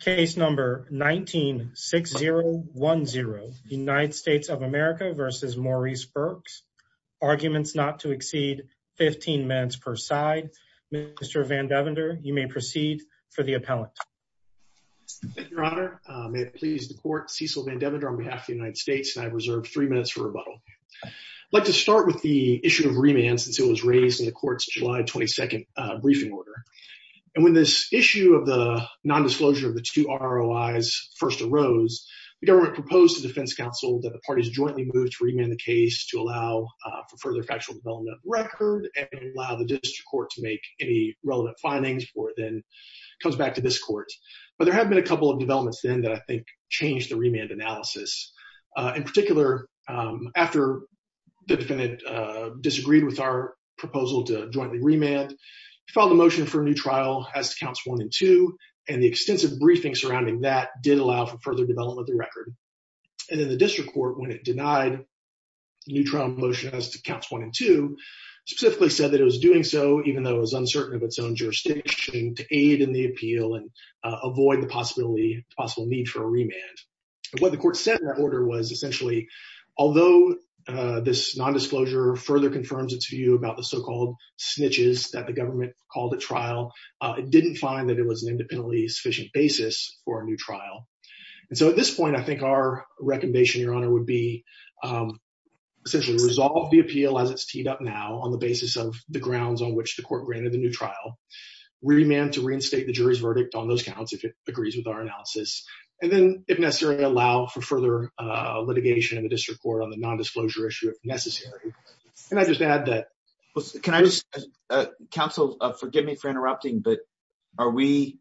case number 196010 United States of America versus Maurice Burks arguments not to exceed 15 minutes per side. Mr. Vandevender, you may proceed for the appellant. Thank you, your honor. May it please the court, Cecil Vandevender on behalf of the United States and I reserve three minutes for rebuttal. I'd like to start with the issue of remand since it was raised in the court's July 22nd briefing order. And when this issue of the non-disclosure of the two ROIs first arose, the government proposed to defense counsel that the parties jointly move to remand the case to allow for further factual development of the record and allow the district court to make any relevant findings before it then comes back to this court. But there have been a couple of developments then that I think changed the remand analysis. In particular, after the defendant disagreed with our proposal to jointly remand, filed a motion for a new trial as to counts one and two, and the extensive briefing surrounding that did allow for further development of the record. And then the district court, when it denied the new trial motion as to counts one and two, specifically said that it was doing so even though it was uncertain of its own jurisdiction to aid in the appeal and avoid the possibility, possible need for a remand. What the court said in that order was essentially, although this non-disclosure further confirms its view about the so-called snitches that the government called a trial, it didn't find that it was an independently sufficient basis for a new trial. And so at this point, I think our recommendation, Your Honor, would be essentially resolve the appeal as it's teed up now on the basis of the grounds on which the court granted the new trial, remand to reinstate the jury's verdict on those counts if it agrees with our analysis, and then if necessary, allow for further litigation in the district court on the disclosure issue if necessary. Can I just add that? Counsel, forgive me for interrupting, but are we,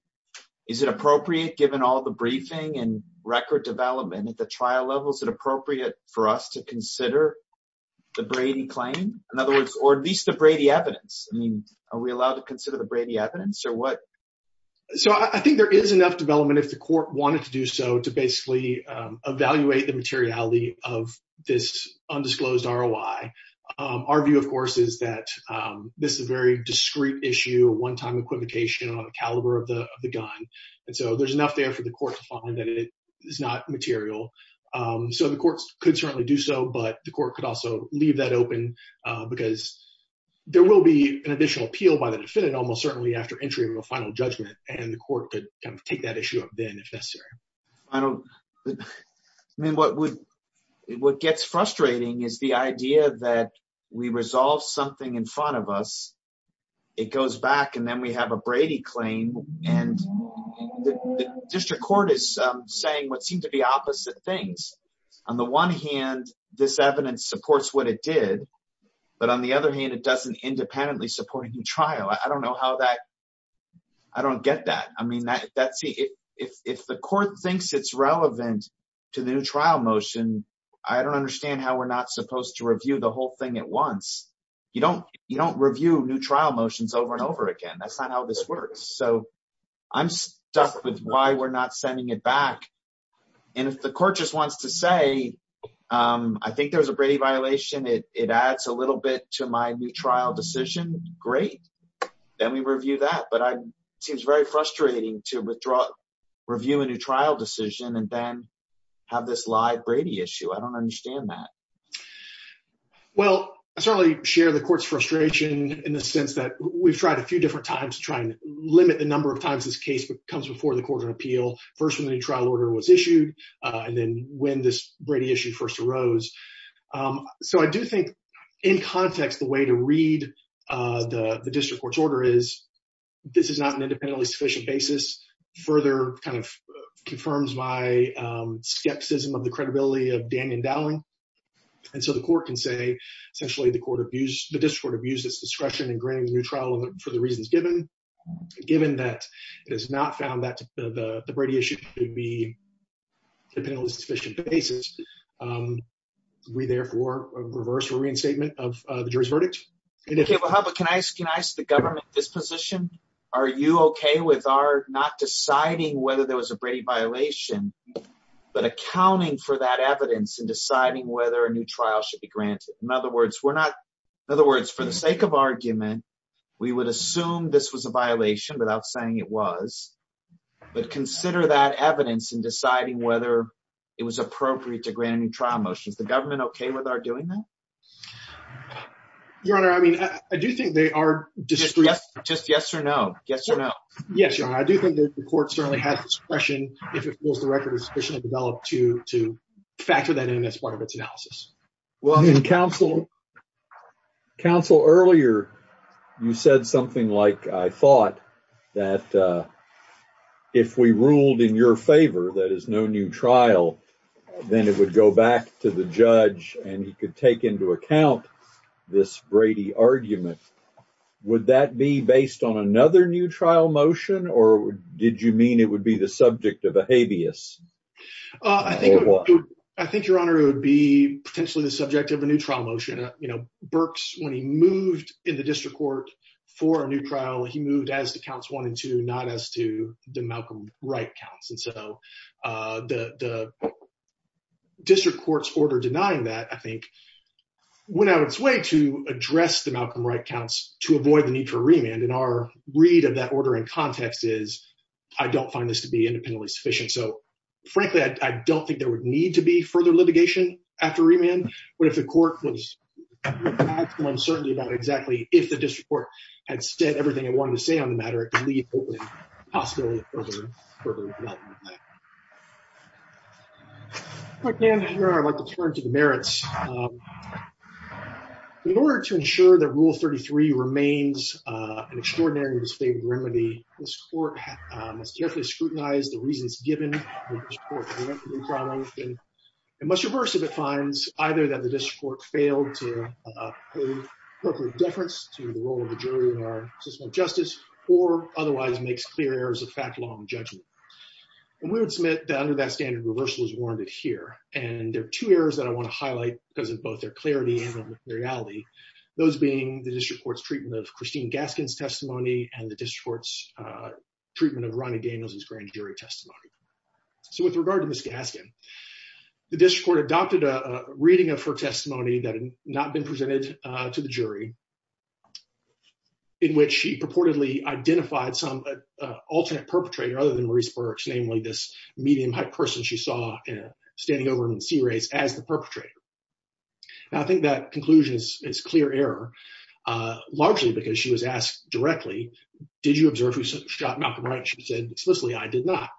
is it appropriate given all the briefing and record development at the trial level, is it appropriate for us to consider the Brady claim? In other words, or at least the Brady evidence? I mean, are we allowed to consider the Brady evidence or what? So I think there is enough development if the court wanted to do so to evaluate the materiality of this undisclosed ROI. Our view, of course, is that this is a very discreet issue, a one-time equivocation on the caliber of the gun. And so there's enough there for the court to find that it is not material. So the courts could certainly do so, but the court could also leave that open because there will be an additional appeal by the defendant almost certainly after entry of a final judgment, and the court could take that issue up then if necessary. I don't, I mean, what would, what gets frustrating is the idea that we resolve something in front of us, it goes back, and then we have a Brady claim, and the district court is saying what seemed to be opposite things. On the one hand, this evidence supports what it did, but on the other hand, it doesn't independently support any trial. I don't know how that, I don't get that. I mean, if the court thinks it's relevant to the new trial motion, I don't understand how we're not supposed to review the whole thing at once. You don't review new trial motions over and over again. That's not how this works. So I'm stuck with why we're not sending it back. And if the court just wants to say, I think there was a Brady violation, it adds a little bit to my new trial decision. Great. Then we review that. But I, it seems very frustrating to withdraw, review a new trial decision, and then have this live Brady issue. I don't understand that. Well, I certainly share the court's frustration in the sense that we've tried a few different times to try and limit the number of times this case comes before the Court of Appeal, first when the new trial order was issued, and then when this Brady issue first arose. So I do think, in context, the way to read the district court's order is, this is not an independently sufficient basis, further kind of confirms my skepticism of the credibility of Damian Dowling. And so the court can say, essentially the court abused, the district court abused its discretion in granting the new trial for the reasons given, given that it is not found that the Brady issue could be independently sufficient basis. We therefore reverse a reinstatement of the jury's verdict. Okay, but how about, can I ask the government this position? Are you okay with our not deciding whether there was a Brady violation, but accounting for that evidence and deciding whether a new trial should be granted? In other words, we're not, in other words, for the sake of argument, we would assume this was a violation without saying it was, but consider that evidence in deciding whether it was appropriate to grant a new trial motion. Is the government okay with our doing that? Your Honor, I mean, I do think they are- Just yes or no, yes or no. Yes, Your Honor, I do think that the court certainly has discretion if it feels the record is sufficiently developed to factor that in as part of its analysis. Well, I mean, counsel, earlier you said something like, I thought that if we ruled in your favor, that is no new trial, then it would go back to the judge and he could take into account this Brady argument. Would that be based on another new trial motion or did you mean it would be the subject of a habeas? I think, Your Honor, it would be potentially the subject of a new trial motion. Berks, when he moved in the district court for a new trial, he moved as to counts one and two, not as to the Malcolm Wright counts. And so the district court's order denying that, I think, went out of its way to address the Malcolm Wright counts to avoid the need for remand. And our read of that order in context is, I don't find this to be independently sufficient. So frankly, I don't think there would need to be further litigation after remand, but if the court was uncertain about exactly if the district court had said everything it possibly could, I'd like to turn to the merits. In order to ensure that Rule 33 remains an extraordinary and disfavored remedy, this court must carefully scrutinize the reasons given. It must reverse if it finds either that the district court failed to appropriate deference to the role of the jury in our system of justice or otherwise makes clear errors of fact along the judgment. And we would submit that under that standard, reversal is warranted here. And there are two errors that I want to highlight because of both their clarity and their materiality, those being the district court's treatment of Christine Gaskin's testimony and the district court's treatment of Ronnie Daniels' grand jury testimony. So with regard to Ms. Gaskin, the district court adopted a reading of her testimony that had not been presented to the jury, in which she purportedly identified some alternate perpetrator other than Maurice Burks, namely this medium height person she saw standing over in the C-rays as the perpetrator. Now, I think that conclusion is clear error, largely because she was asked directly, did you observe who shot Malcolm Wright? She said explicitly, I did not.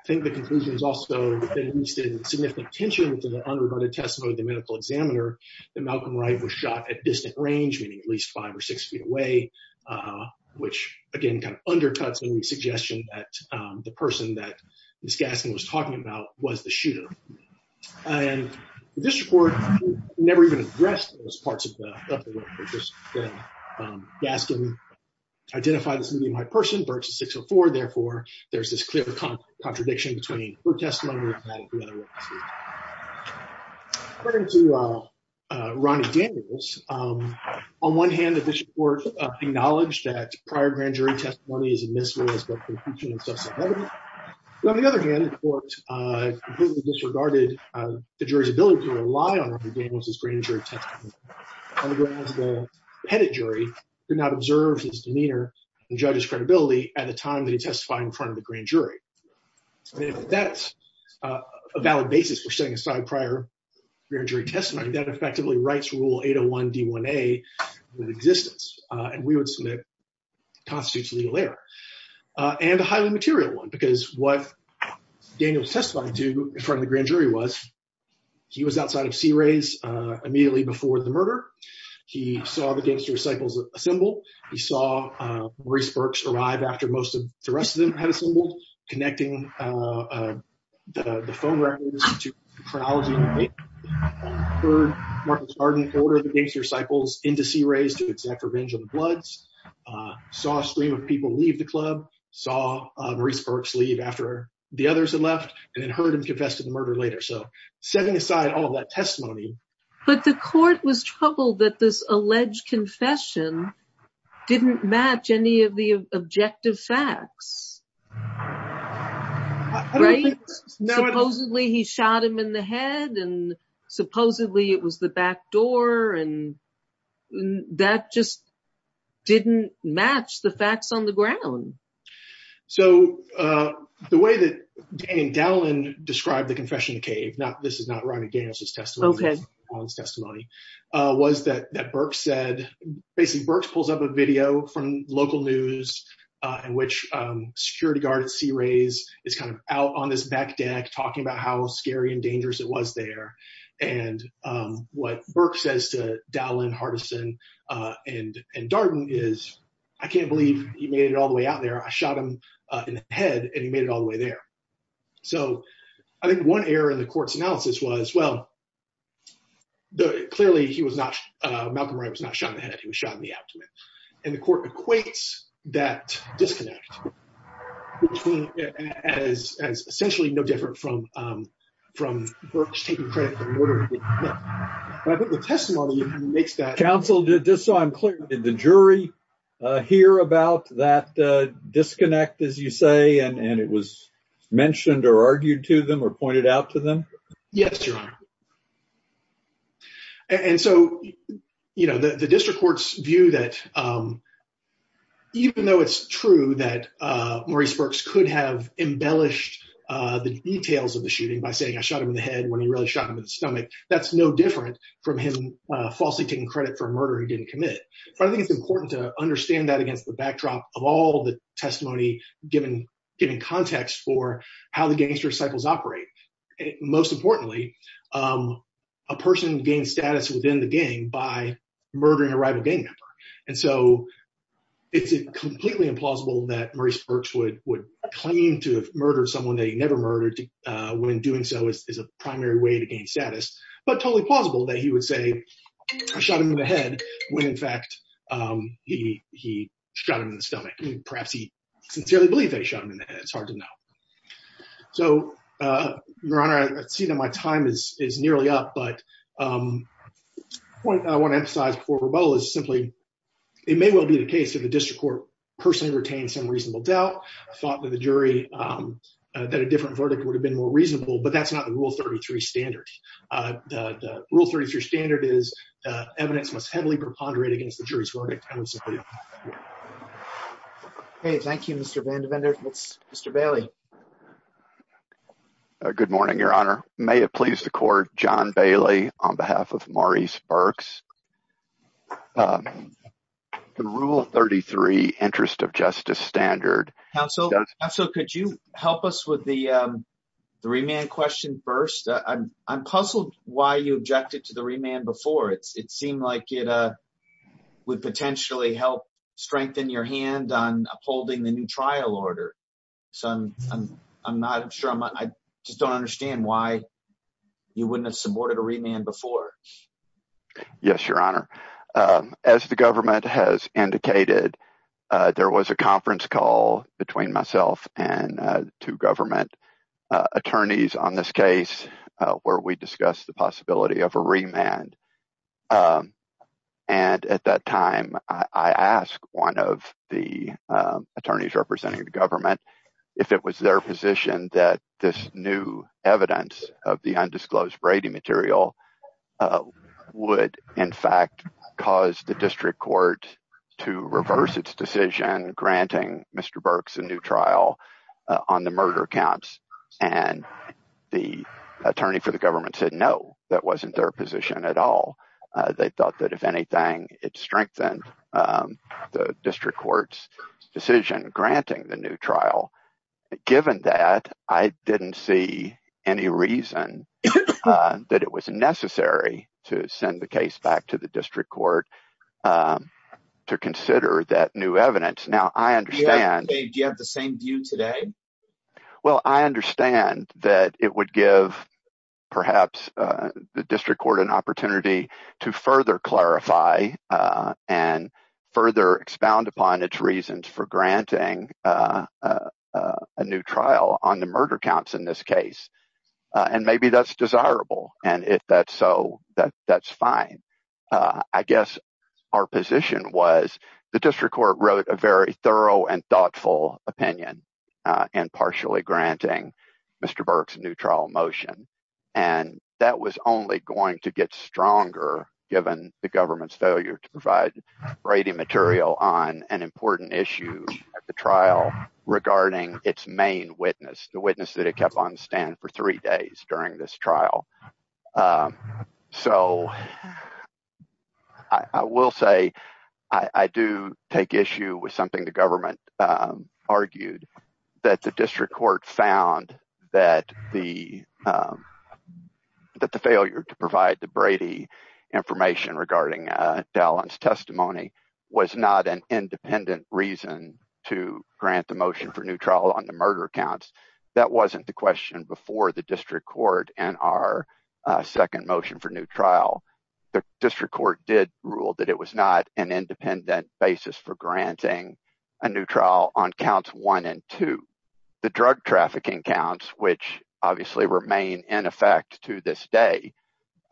I think the conclusion is also that there was significant tension to the unrebutted testimony of the medical examiner, that Malcolm Wright was shot at distant range, meaning at least five or six feet away, which again, kind of undercuts any suggestion that the person that Ms. Gaskin was talking about was the shooter. And the district court never even addressed those parts of the work. Gaskin identified this medium height person, Burks is 604, therefore there's this clear contradiction between her testimony and that of the other witnesses. According to Ronnie Daniels, on one hand the district court acknowledged that prior grand jury testimony is admissible as both conclusion and substantive evidence, but on the other hand, the court completely disregarded the jury's ability to rely on Ronnie Daniels' grand jury testimony, on the grounds that the head of jury did not observe his demeanor and judge's credibility at the time that he testified in front of the grand jury. And if that's a valid basis for setting aside prior grand jury testimony, that effectively writes rule 801-D1A into existence, and we would submit constitutes legal error. And a highly material one, because what Daniels testified to in front of the grand jury was, he was outside of C-Rays immediately before the murder, he saw the gangster cycles assemble, he saw Maurice Burks arrive after the rest of them had assembled, connecting the phone records to the chronology, heard Martin Chardon order the gangster cycles into C-Rays to exact revenge on the Bloods, saw a stream of people leave the club, saw Maurice Burks leave after the others had left, and then heard him confess to the murder later. So, setting aside all of that testimony. But the court was troubled that this alleged confession didn't match any of the objective facts, right? Supposedly he shot him in the head, and supposedly it was the back door, and that just didn't match the facts on the ground. So, the way that Dan Dallin described the confession cave, now this is not Ronnie Daniels' testimony, was that Burks said, basically Burks pulls up a video from local news in which security guard at C-Rays is kind of out on this back deck talking about how scary and dangerous it was there. And what Burks says to Dallin, Hardison, and Darden is, I can't believe he made it all the way out there. I shot him in the head and he made it all the way there. So, I think one error in the court's analysis was, well, clearly Malcolm Wright was not shot in the head, he was shot in the abdomen. And the court equates that disconnect as essentially no different from Burks taking credit for the murder he didn't commit. But I think the testimony makes that. Counsel, just so I'm clear, did the jury hear about that disconnect, as you say, and it was mentioned or argued to them or pointed out to them? Yes, Your Honor. And so, the district court's view that even though it's true that Maurice Burks could have embellished the details of the shooting by saying I shot him in the head when he really shot him in the stomach, that's no different from him falsely taking credit for a murder he didn't commit. I think it's important to understand that against the backdrop of all the testimony given context for how the gangster cycles operate. Most importantly, a person gains status within the gang by murdering a rival gang member. And so, it's completely implausible that Maurice Burks would claim to have murdered someone that he would say shot him in the head when, in fact, he shot him in the stomach. Perhaps he sincerely believed that he shot him in the head. It's hard to know. So, Your Honor, I see that my time is nearly up. But what I want to emphasize before rebuttal is simply it may well be the case that the district court personally retained some reasonable doubt. I thought that the jury, that a different verdict would have been more reasonable. But that's not the Rule 33 standard. The Rule 33 standard is evidence must heavily preponderate against the jury's verdict. Okay, thank you, Mr. Vandivander. Mr. Bailey. Good morning, Your Honor. May it please the court, John Bailey on behalf of Maurice Burks. The Rule 33 interest of justice standard. Counsel, could you help us with the remand question first? I'm puzzled why you objected to the remand before. It seemed like it would potentially help strengthen your hand on upholding the new trial order. So, I'm not sure. I just don't understand why you wouldn't have supported a remand before. Yes, Your Honor. As the government has indicated, there was a conference call between myself and two government attorneys on this case where we discussed the possibility of a remand. And at that time, I asked one of the attorneys representing the government if it was their position that this new evidence of the undisclosed Brady material would, in fact, cause the district court to reverse its decision, granting Mr. Burks a new trial on the murder counts. And the attorney for the government said no, that wasn't their position at all. They thought that if anything, it strengthened the district court's decision granting the new trial. Given that, I didn't see any reason that it was necessary to send the case back to the district court to consider that new evidence. Now, I understand. Do you have the same view today? Well, I understand that it would give perhaps the district court an opportunity to further clarify and further expound upon its reasons for granting a new trial on the murder counts in this case. And maybe that's desirable. And if that's so, that's fine. I guess our position was, the district court wrote a very thorough and thoughtful opinion in partially granting Mr. Burks a new trial motion. And that was only going to get stronger given the government's failure to provide Brady material on an important issue at the trial regarding its main witness, the witness that it kept on stand for three days during this trial. So I will say, I do take issue with something the government argued, that the district court found that the failure to provide the Brady information regarding Dallon's testimony was not an independent reason to grant the motion for new trial on the murder counts. That wasn't the question before the district court and our second motion for new trial. The district court did rule that it was not an independent basis for granting a new trial on counts one and two. The drug trafficking counts, which obviously remain in effect to this day.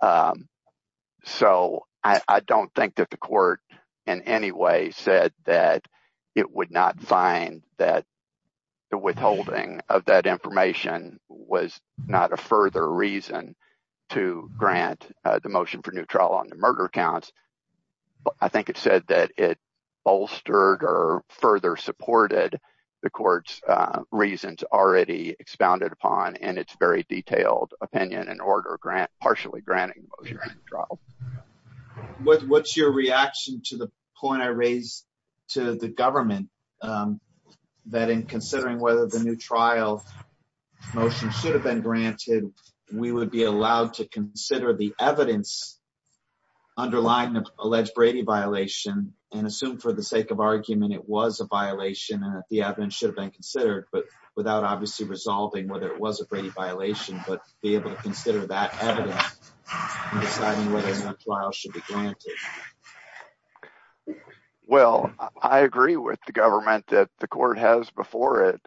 So I don't think that the court in any way said that it would not find that the withholding of that information was not a further reason to grant the motion for new trial on the murder counts. I think it said that it bolstered or further supported the court's reasons already expounded upon in its very detailed opinion and order grant, partially granting the motion for new trial. What's your reaction to the point I raised to the government that in considering whether the new trial motion should have been granted, we would be allowed to consider the evidence underlying the alleged Brady violation and assume for the sake of argument, it was a violation and that the evidence should have been considered, but without obviously resolving whether it was a Brady violation, but be able to I agree with the government that the court has before it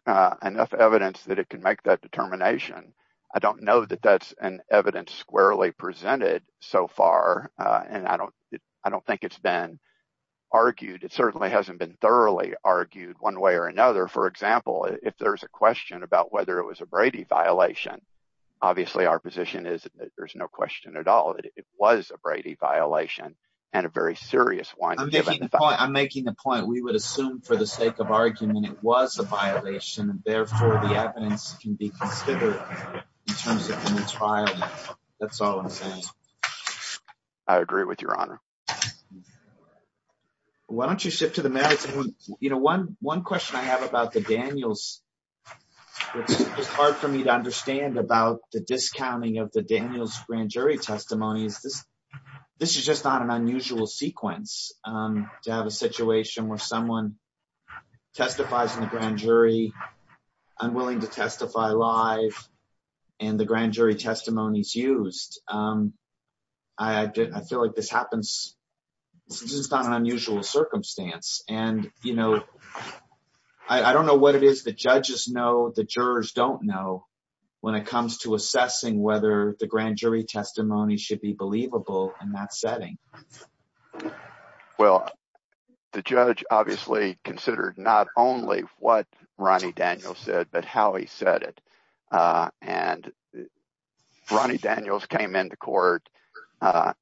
enough evidence that it can make that determination. I don't know that that's an evidence squarely presented so far. And I don't, I don't think it's been argued. It certainly hasn't been thoroughly argued one way or another. For example, if there's a question about whether it was a Brady violation, obviously our position is that there's no question at all that it was a Brady violation and a very serious one. I'm making the point. We would assume for the sake of argument, it was a violation. Therefore, the evidence can be considered in terms of trial. That's all I'm saying. I agree with your honor. Why don't you shift to the merits? You know, one, one question I have about the Daniels. It's hard for me to understand about the discounting of the Daniels grand jury testimonies. This, this is just not an unusual sequence to have a situation where someone testifies in the grand jury, unwilling to testify live and the grand jury testimonies used. I, I feel like this happens. It's just not an unusual circumstance. And, you know, I don't know what it is that judges know the jurors don't know when it comes to assessing whether the grand jury testimony should be believable in that setting. Well, the judge obviously considered not only what Ronnie Daniels said, but how he said it. And Ronnie Daniels came into court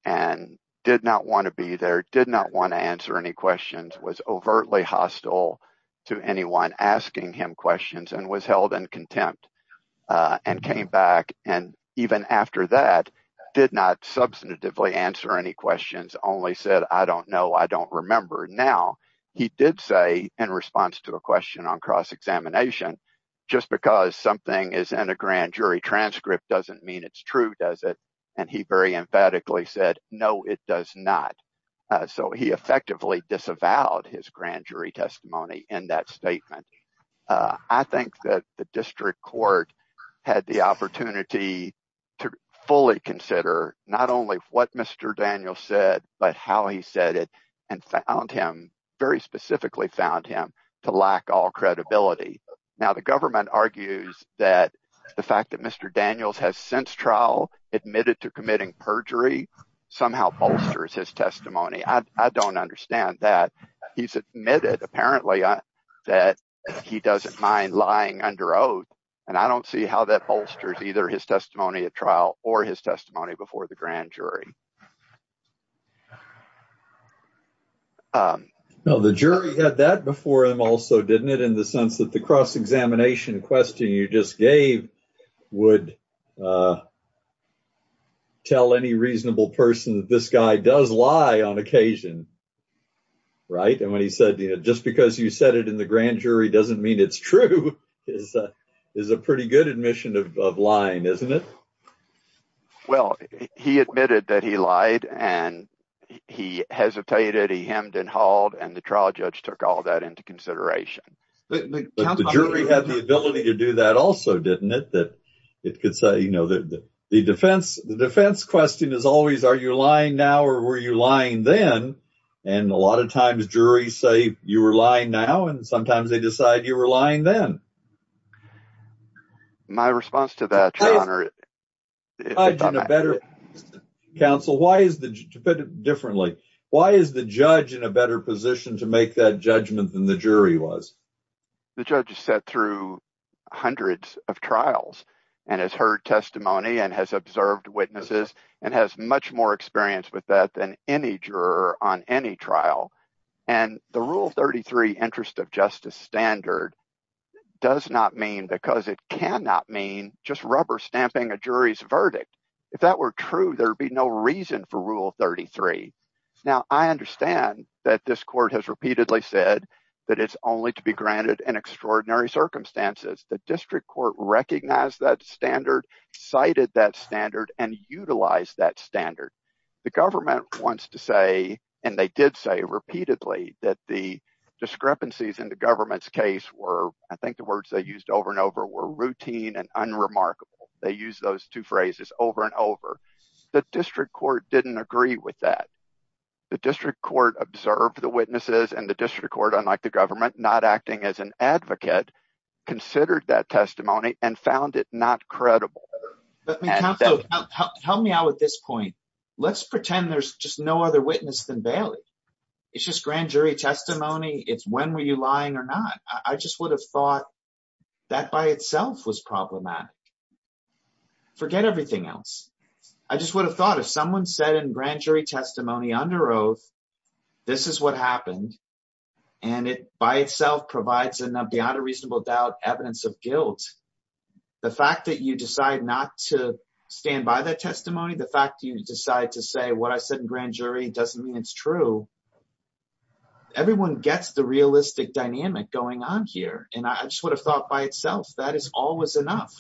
and did not want to be there, did not want to answer any questions, was overtly hostile to anyone asking him questions and was held in contempt and came back. And even after that, did not substantively answer any questions, only said, I don't know, I don't remember. Now he did say in response to the question on cross-examination, just because something is in a grand jury transcript doesn't mean it's true, does it? And he very emphatically said, no, it does not. So he effectively disavowed his grand jury testimony in that statement. I think that the district court had the opportunity to fully consider not only what Mr. Daniels said, but how he said it and found him very specifically found him to lack all credibility. Now the government argues that the fact that Mr. Daniels has since trial admitted to committing perjury somehow bolsters his testimony. I don't understand that. He's admitted apparently that he doesn't mind lying under oath, and I don't see how that bolsters either his testimony at trial or his testimony before the grand jury. Now the jury had that before him also, didn't it? In the sense that the cross-examination question you just gave would tell any reasonable person that this guy does lie on occasion. And when he said, just because you said it in the grand jury doesn't mean it's true, is a pretty good admission of lying, isn't it? Well, he admitted that he lied and he hesitated, he hemmed and hauled, and the trial judge took all that into consideration. But the jury had the ability to do that also, didn't it? The defense question is always, are you lying now or were you lying then? And a lot of times juries say you were lying now, and sometimes they decide you were lying then. My response to that, your honor, counsel, why is the judge in a better position to make that judgment than the jury was? The judge has sat through hundreds of trials and has heard testimony and has observed witnesses and has much more experience with that than any juror on any trial. And the Rule 33 interest of justice standard does not mean, because it cannot mean, just rubber stamping a jury's verdict. If that were true, there'd be no reason for Rule 33. Now I understand that this court has repeatedly said that it's only to be granted in extraordinary circumstances. The district court recognized that standard, cited that standard, and utilized that standard. The government wants to say, and they did say repeatedly, that the discrepancies in the government's case were, I think the words they used over and over, were routine and unremarkable. They used those two phrases over and over. The district court didn't agree with that. The district court observed the witnesses and the district court, unlike the government, not acting as an advocate, considered that testimony and found it not credible. Help me out with this point. Let's pretend there's just no other witness than Bailey. It's just grand jury testimony. It's when were you lying or not. I just would have thought that by itself was problematic. Forget everything else. I just would have thought if someone said in grand jury testimony under oath, this is what happened, and it by itself provides enough, beyond a reasonable doubt, evidence of guilt, the fact that you decide not to stand by that testimony, the fact you decide to say what I said in grand jury doesn't mean it's true. Everyone gets the realistic dynamic going on here, and I just would have thought by itself that is always enough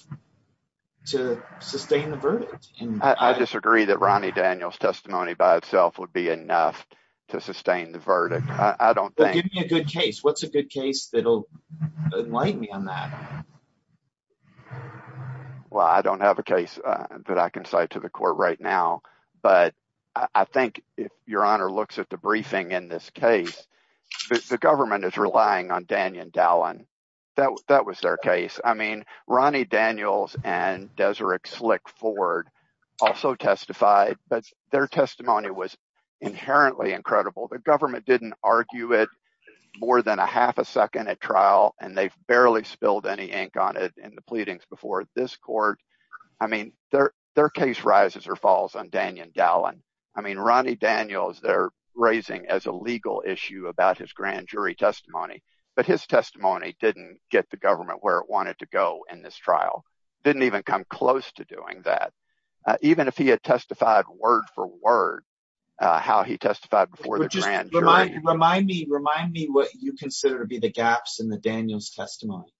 to sustain the verdict. I disagree that Ronnie Daniel's testimony by itself would be enough to sustain the verdict. I don't think. Give me a good case. What's a good case that will enlighten me on that? Well, I don't have a case that I can cite to the court right now, but I think if your honor looks at the briefing in this case, the government is relying on Daniel Dallin. That was their case. I mean, Ronnie Daniel's and Deseret Slick Ford also testified, but their testimony was inherently incredible. The government didn't argue it more than a half a second at trial, and they've barely spilled any ink on it in the pleadings before this court. I mean, their case rises or falls on Daniel Dallin. I mean, Ronnie Daniel's, they're raising as a legal issue about his grand jury testimony, but his testimony didn't get the government where it wanted to go in this trial, didn't even come close to doing that. Even if he testified word for word, how he testified before the grand jury. Remind me what you consider to be the gaps in the Daniel's testimony.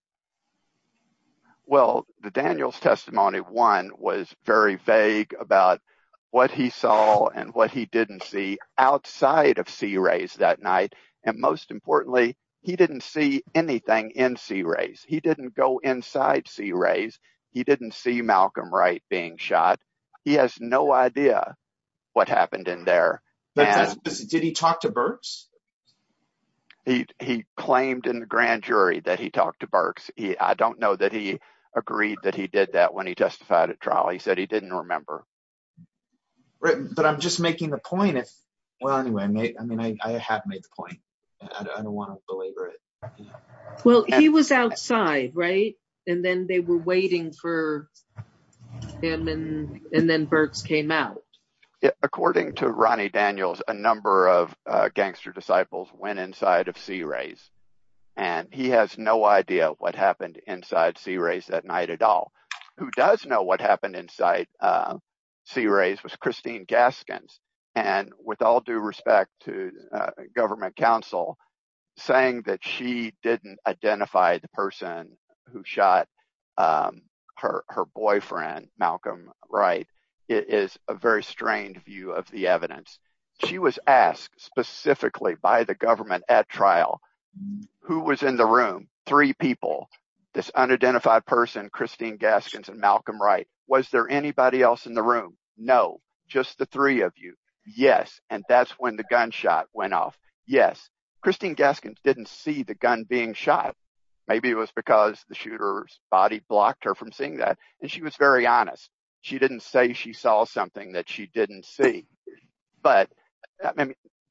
Well, the Daniel's testimony, one, was very vague about what he saw and what he didn't see outside of Sea Rays that night, and most importantly, he didn't see anything in Sea Rays. He didn't go inside Sea Rays. He didn't see Malcolm Wright being shot. He has no idea what happened in there. Did he talk to Burks? He claimed in the grand jury that he talked to Burks. I don't know that he agreed that he did that when he testified at trial. He said he didn't remember. Right, but I'm just making the point. Well, anyway, I mean, I have made the point. I don't want to belabor it. Well, he was outside, right, and then they were waiting for him, and then Burks came out. According to Ronnie Daniels, a number of gangster disciples went inside of Sea Rays, and he has no idea what happened inside Sea Rays that night at all. Who does know what happened inside Sea Rays was Christine Gaskins, and with all due respect to government counsel, saying that she didn't identify the person who shot her boyfriend, Malcolm Wright, is a very strained view of the evidence. She was asked specifically by the government at trial who was in the room, three people, this unidentified person, Christine Gaskins and Malcolm Wright. Was there anybody else in the room? No, just the three of you. Yes, and that's when the gunshot went off. Yes, Christine Gaskins didn't see the gun being shot. Maybe it was because the shooter's body blocked her from seeing that, and she was very honest. She didn't say she saw something that she didn't see, but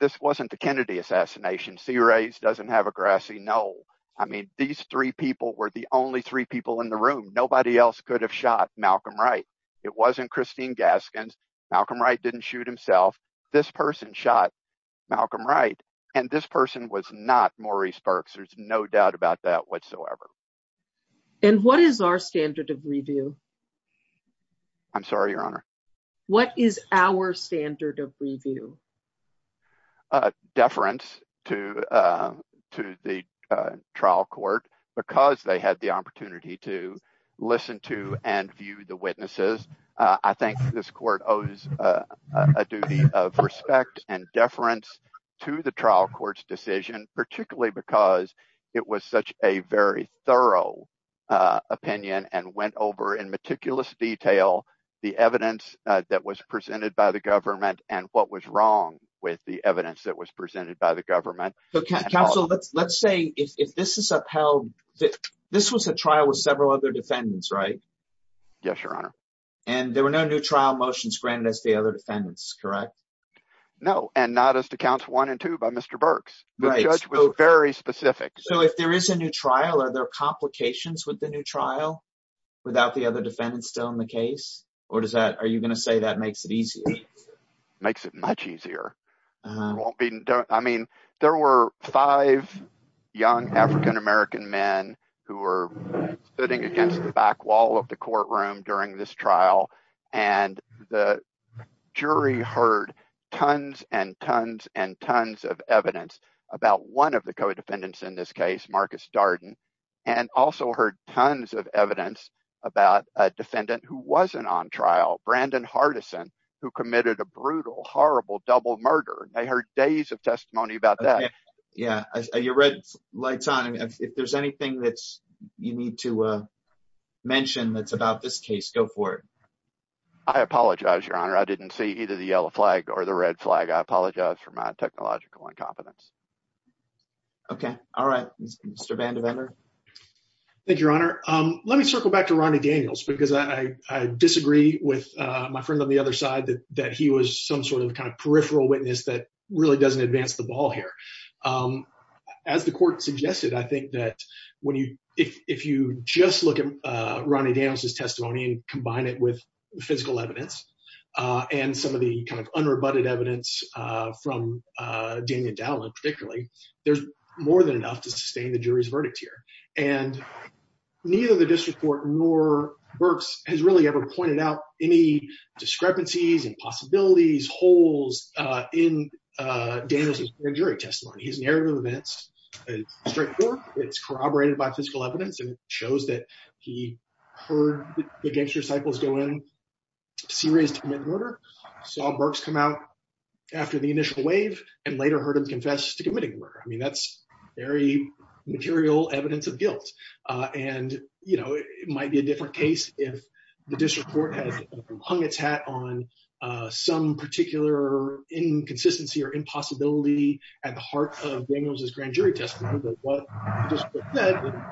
this wasn't the Kennedy assassination. Sea Rays doesn't have a grassy knoll. I mean, these three people were the only three people in the room. Nobody else could have shot Malcolm Wright. It wasn't Christine Gaskins. Malcolm Wright didn't shoot himself. This person shot Malcolm Wright, and this person was not Maurice Burks. There's no doubt about that whatsoever. And what is our standard of review? I'm sorry, Your Honor. What is our standard of review? Deference to the trial court because they had the opportunity to listen to and view the witnesses. I think this court owes a duty of respect and deference to the trial court's decision, particularly because it was such a very thorough opinion and went over in meticulous detail the evidence that was presented by the government and what was wrong with the evidence that was presented by the government. Counsel, let's say if this is upheld, this was a trial with several other defendants, right? Yes, Your Honor. And there were no new trial motions granted as the other defendants, correct? No, and not as to counts one and two by Mr. Burks. The judge was very specific. So if there is a new trial, are there complications with the new trial without the other defendants still in the case? Or are you going to say that makes it easier? Makes it much easier. I mean, there were five young African-American men who were sitting against the back wall of the courtroom during this trial. And the jury heard tons and tons and tons of evidence about one of the co-defendants in this case, Marcus Darden, and also heard tons of evidence about a defendant who wasn't on trial, Brandon Hardison, who committed a brutal, horrible double murder. They heard days of testimony about that. Yeah, your red light's on. If there's anything that you need to mention that's about this case, go for it. I apologize, Your Honor. I didn't see either the yellow flag or the red flag. I apologize for my technological incompetence. Okay. All right. Mr. Vandiver. Thank you, Your Honor. Let me circle back to Ronnie Daniels because I disagree with my friend on the other side that he was some sort of kind of peripheral witness that really doesn't advance the ball here. As the court suggested, I think that if you just look at Ronnie Daniels' testimony and combine it with physical evidence and some of the kind of unrebutted evidence from Daniel Dowland particularly, there's more than enough to sustain the jury's verdict here. And neither the district court nor Berks has really ever pointed out any discrepancies, impossibilities, holes in Daniels' jury testimony. His narrative of events is straightforward. It's corroborated by physical evidence and shows that he heard the gangster cycles go in, serious to commit murder, saw Berks come out after the initial wave and later heard him confess to committing murder. I mean, that's very material evidence of guilt. And, you know, it might be a different case if the district court has hung its hat on some particular inconsistency or impossibility at the heart of Daniels' grand jury testimony. But what the district court said,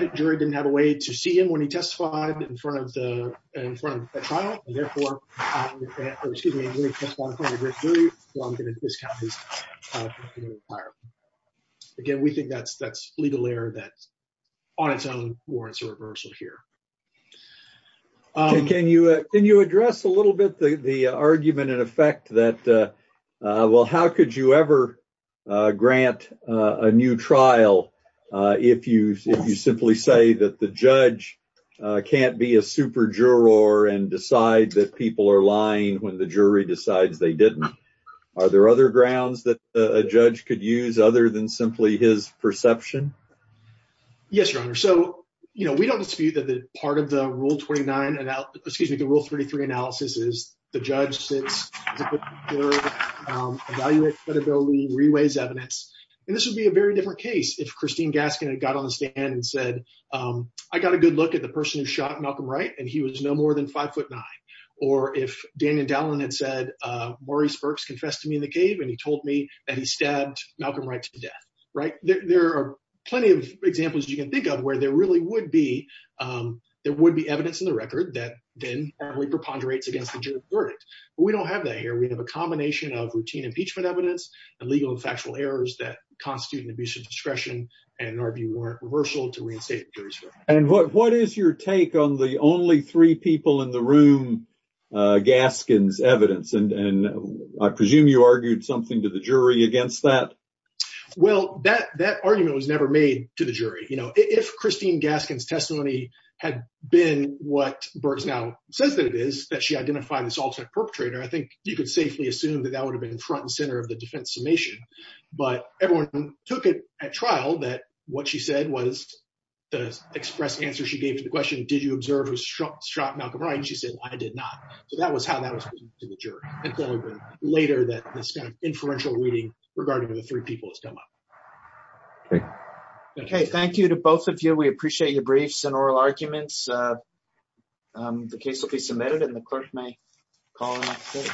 the jury didn't have a way to see him when he confessed. Again, we think that's legal error that on its own warrants a reversal here. Can you address a little bit the argument in effect that, well, how could you ever grant a new trial if you simply say that the judge can't be a super juror and decide that people are lying when the jury decides they didn't? Are there other grounds that a judge could use other than simply his perception? Yes, your honor. So, you know, we don't dispute that part of the rule 29, excuse me, the rule 33 analysis is the judge sits, evaluates credibility, reweighs evidence. And this would be a very different case if Christine Gaskin had got on the stand and said, I got a good look at the person who shot Malcolm Wright and he was no more than five foot nine. Or if Daniel Dallin had said, Maurice Burks confessed to me in the cave and he told me that he stabbed Malcolm Wright to death, right? There are plenty of examples you can think of where there really would be, there would be evidence in the record that then probably preponderates against the jury's verdict. But we don't have that here. We have a combination of routine impeachment evidence and legal and factual errors that constitute an abuse of discretion and argue warrant reversal to reinstate the jury's verdict. And what is your take on the only three people in the room, Gaskin's evidence, and I presume you argued something to the jury against that? Well, that argument was never made to the jury. You know, if Christine Gaskin's testimony had been what Burks now says that it is, that she identified this alternate perpetrator, I think you could safely assume that that would have been front and center of the defense summation. But everyone took it at trial that what she said was the express answer she observed was shot Malcolm Wright, and she said, I did not. So that was how that was put to the jury. And clearly later that this kind of inferential reading regarding the three people has come up. Okay, thank you to both of you. We appreciate your briefs and oral arguments. The case will be submitted and the clerk may call it.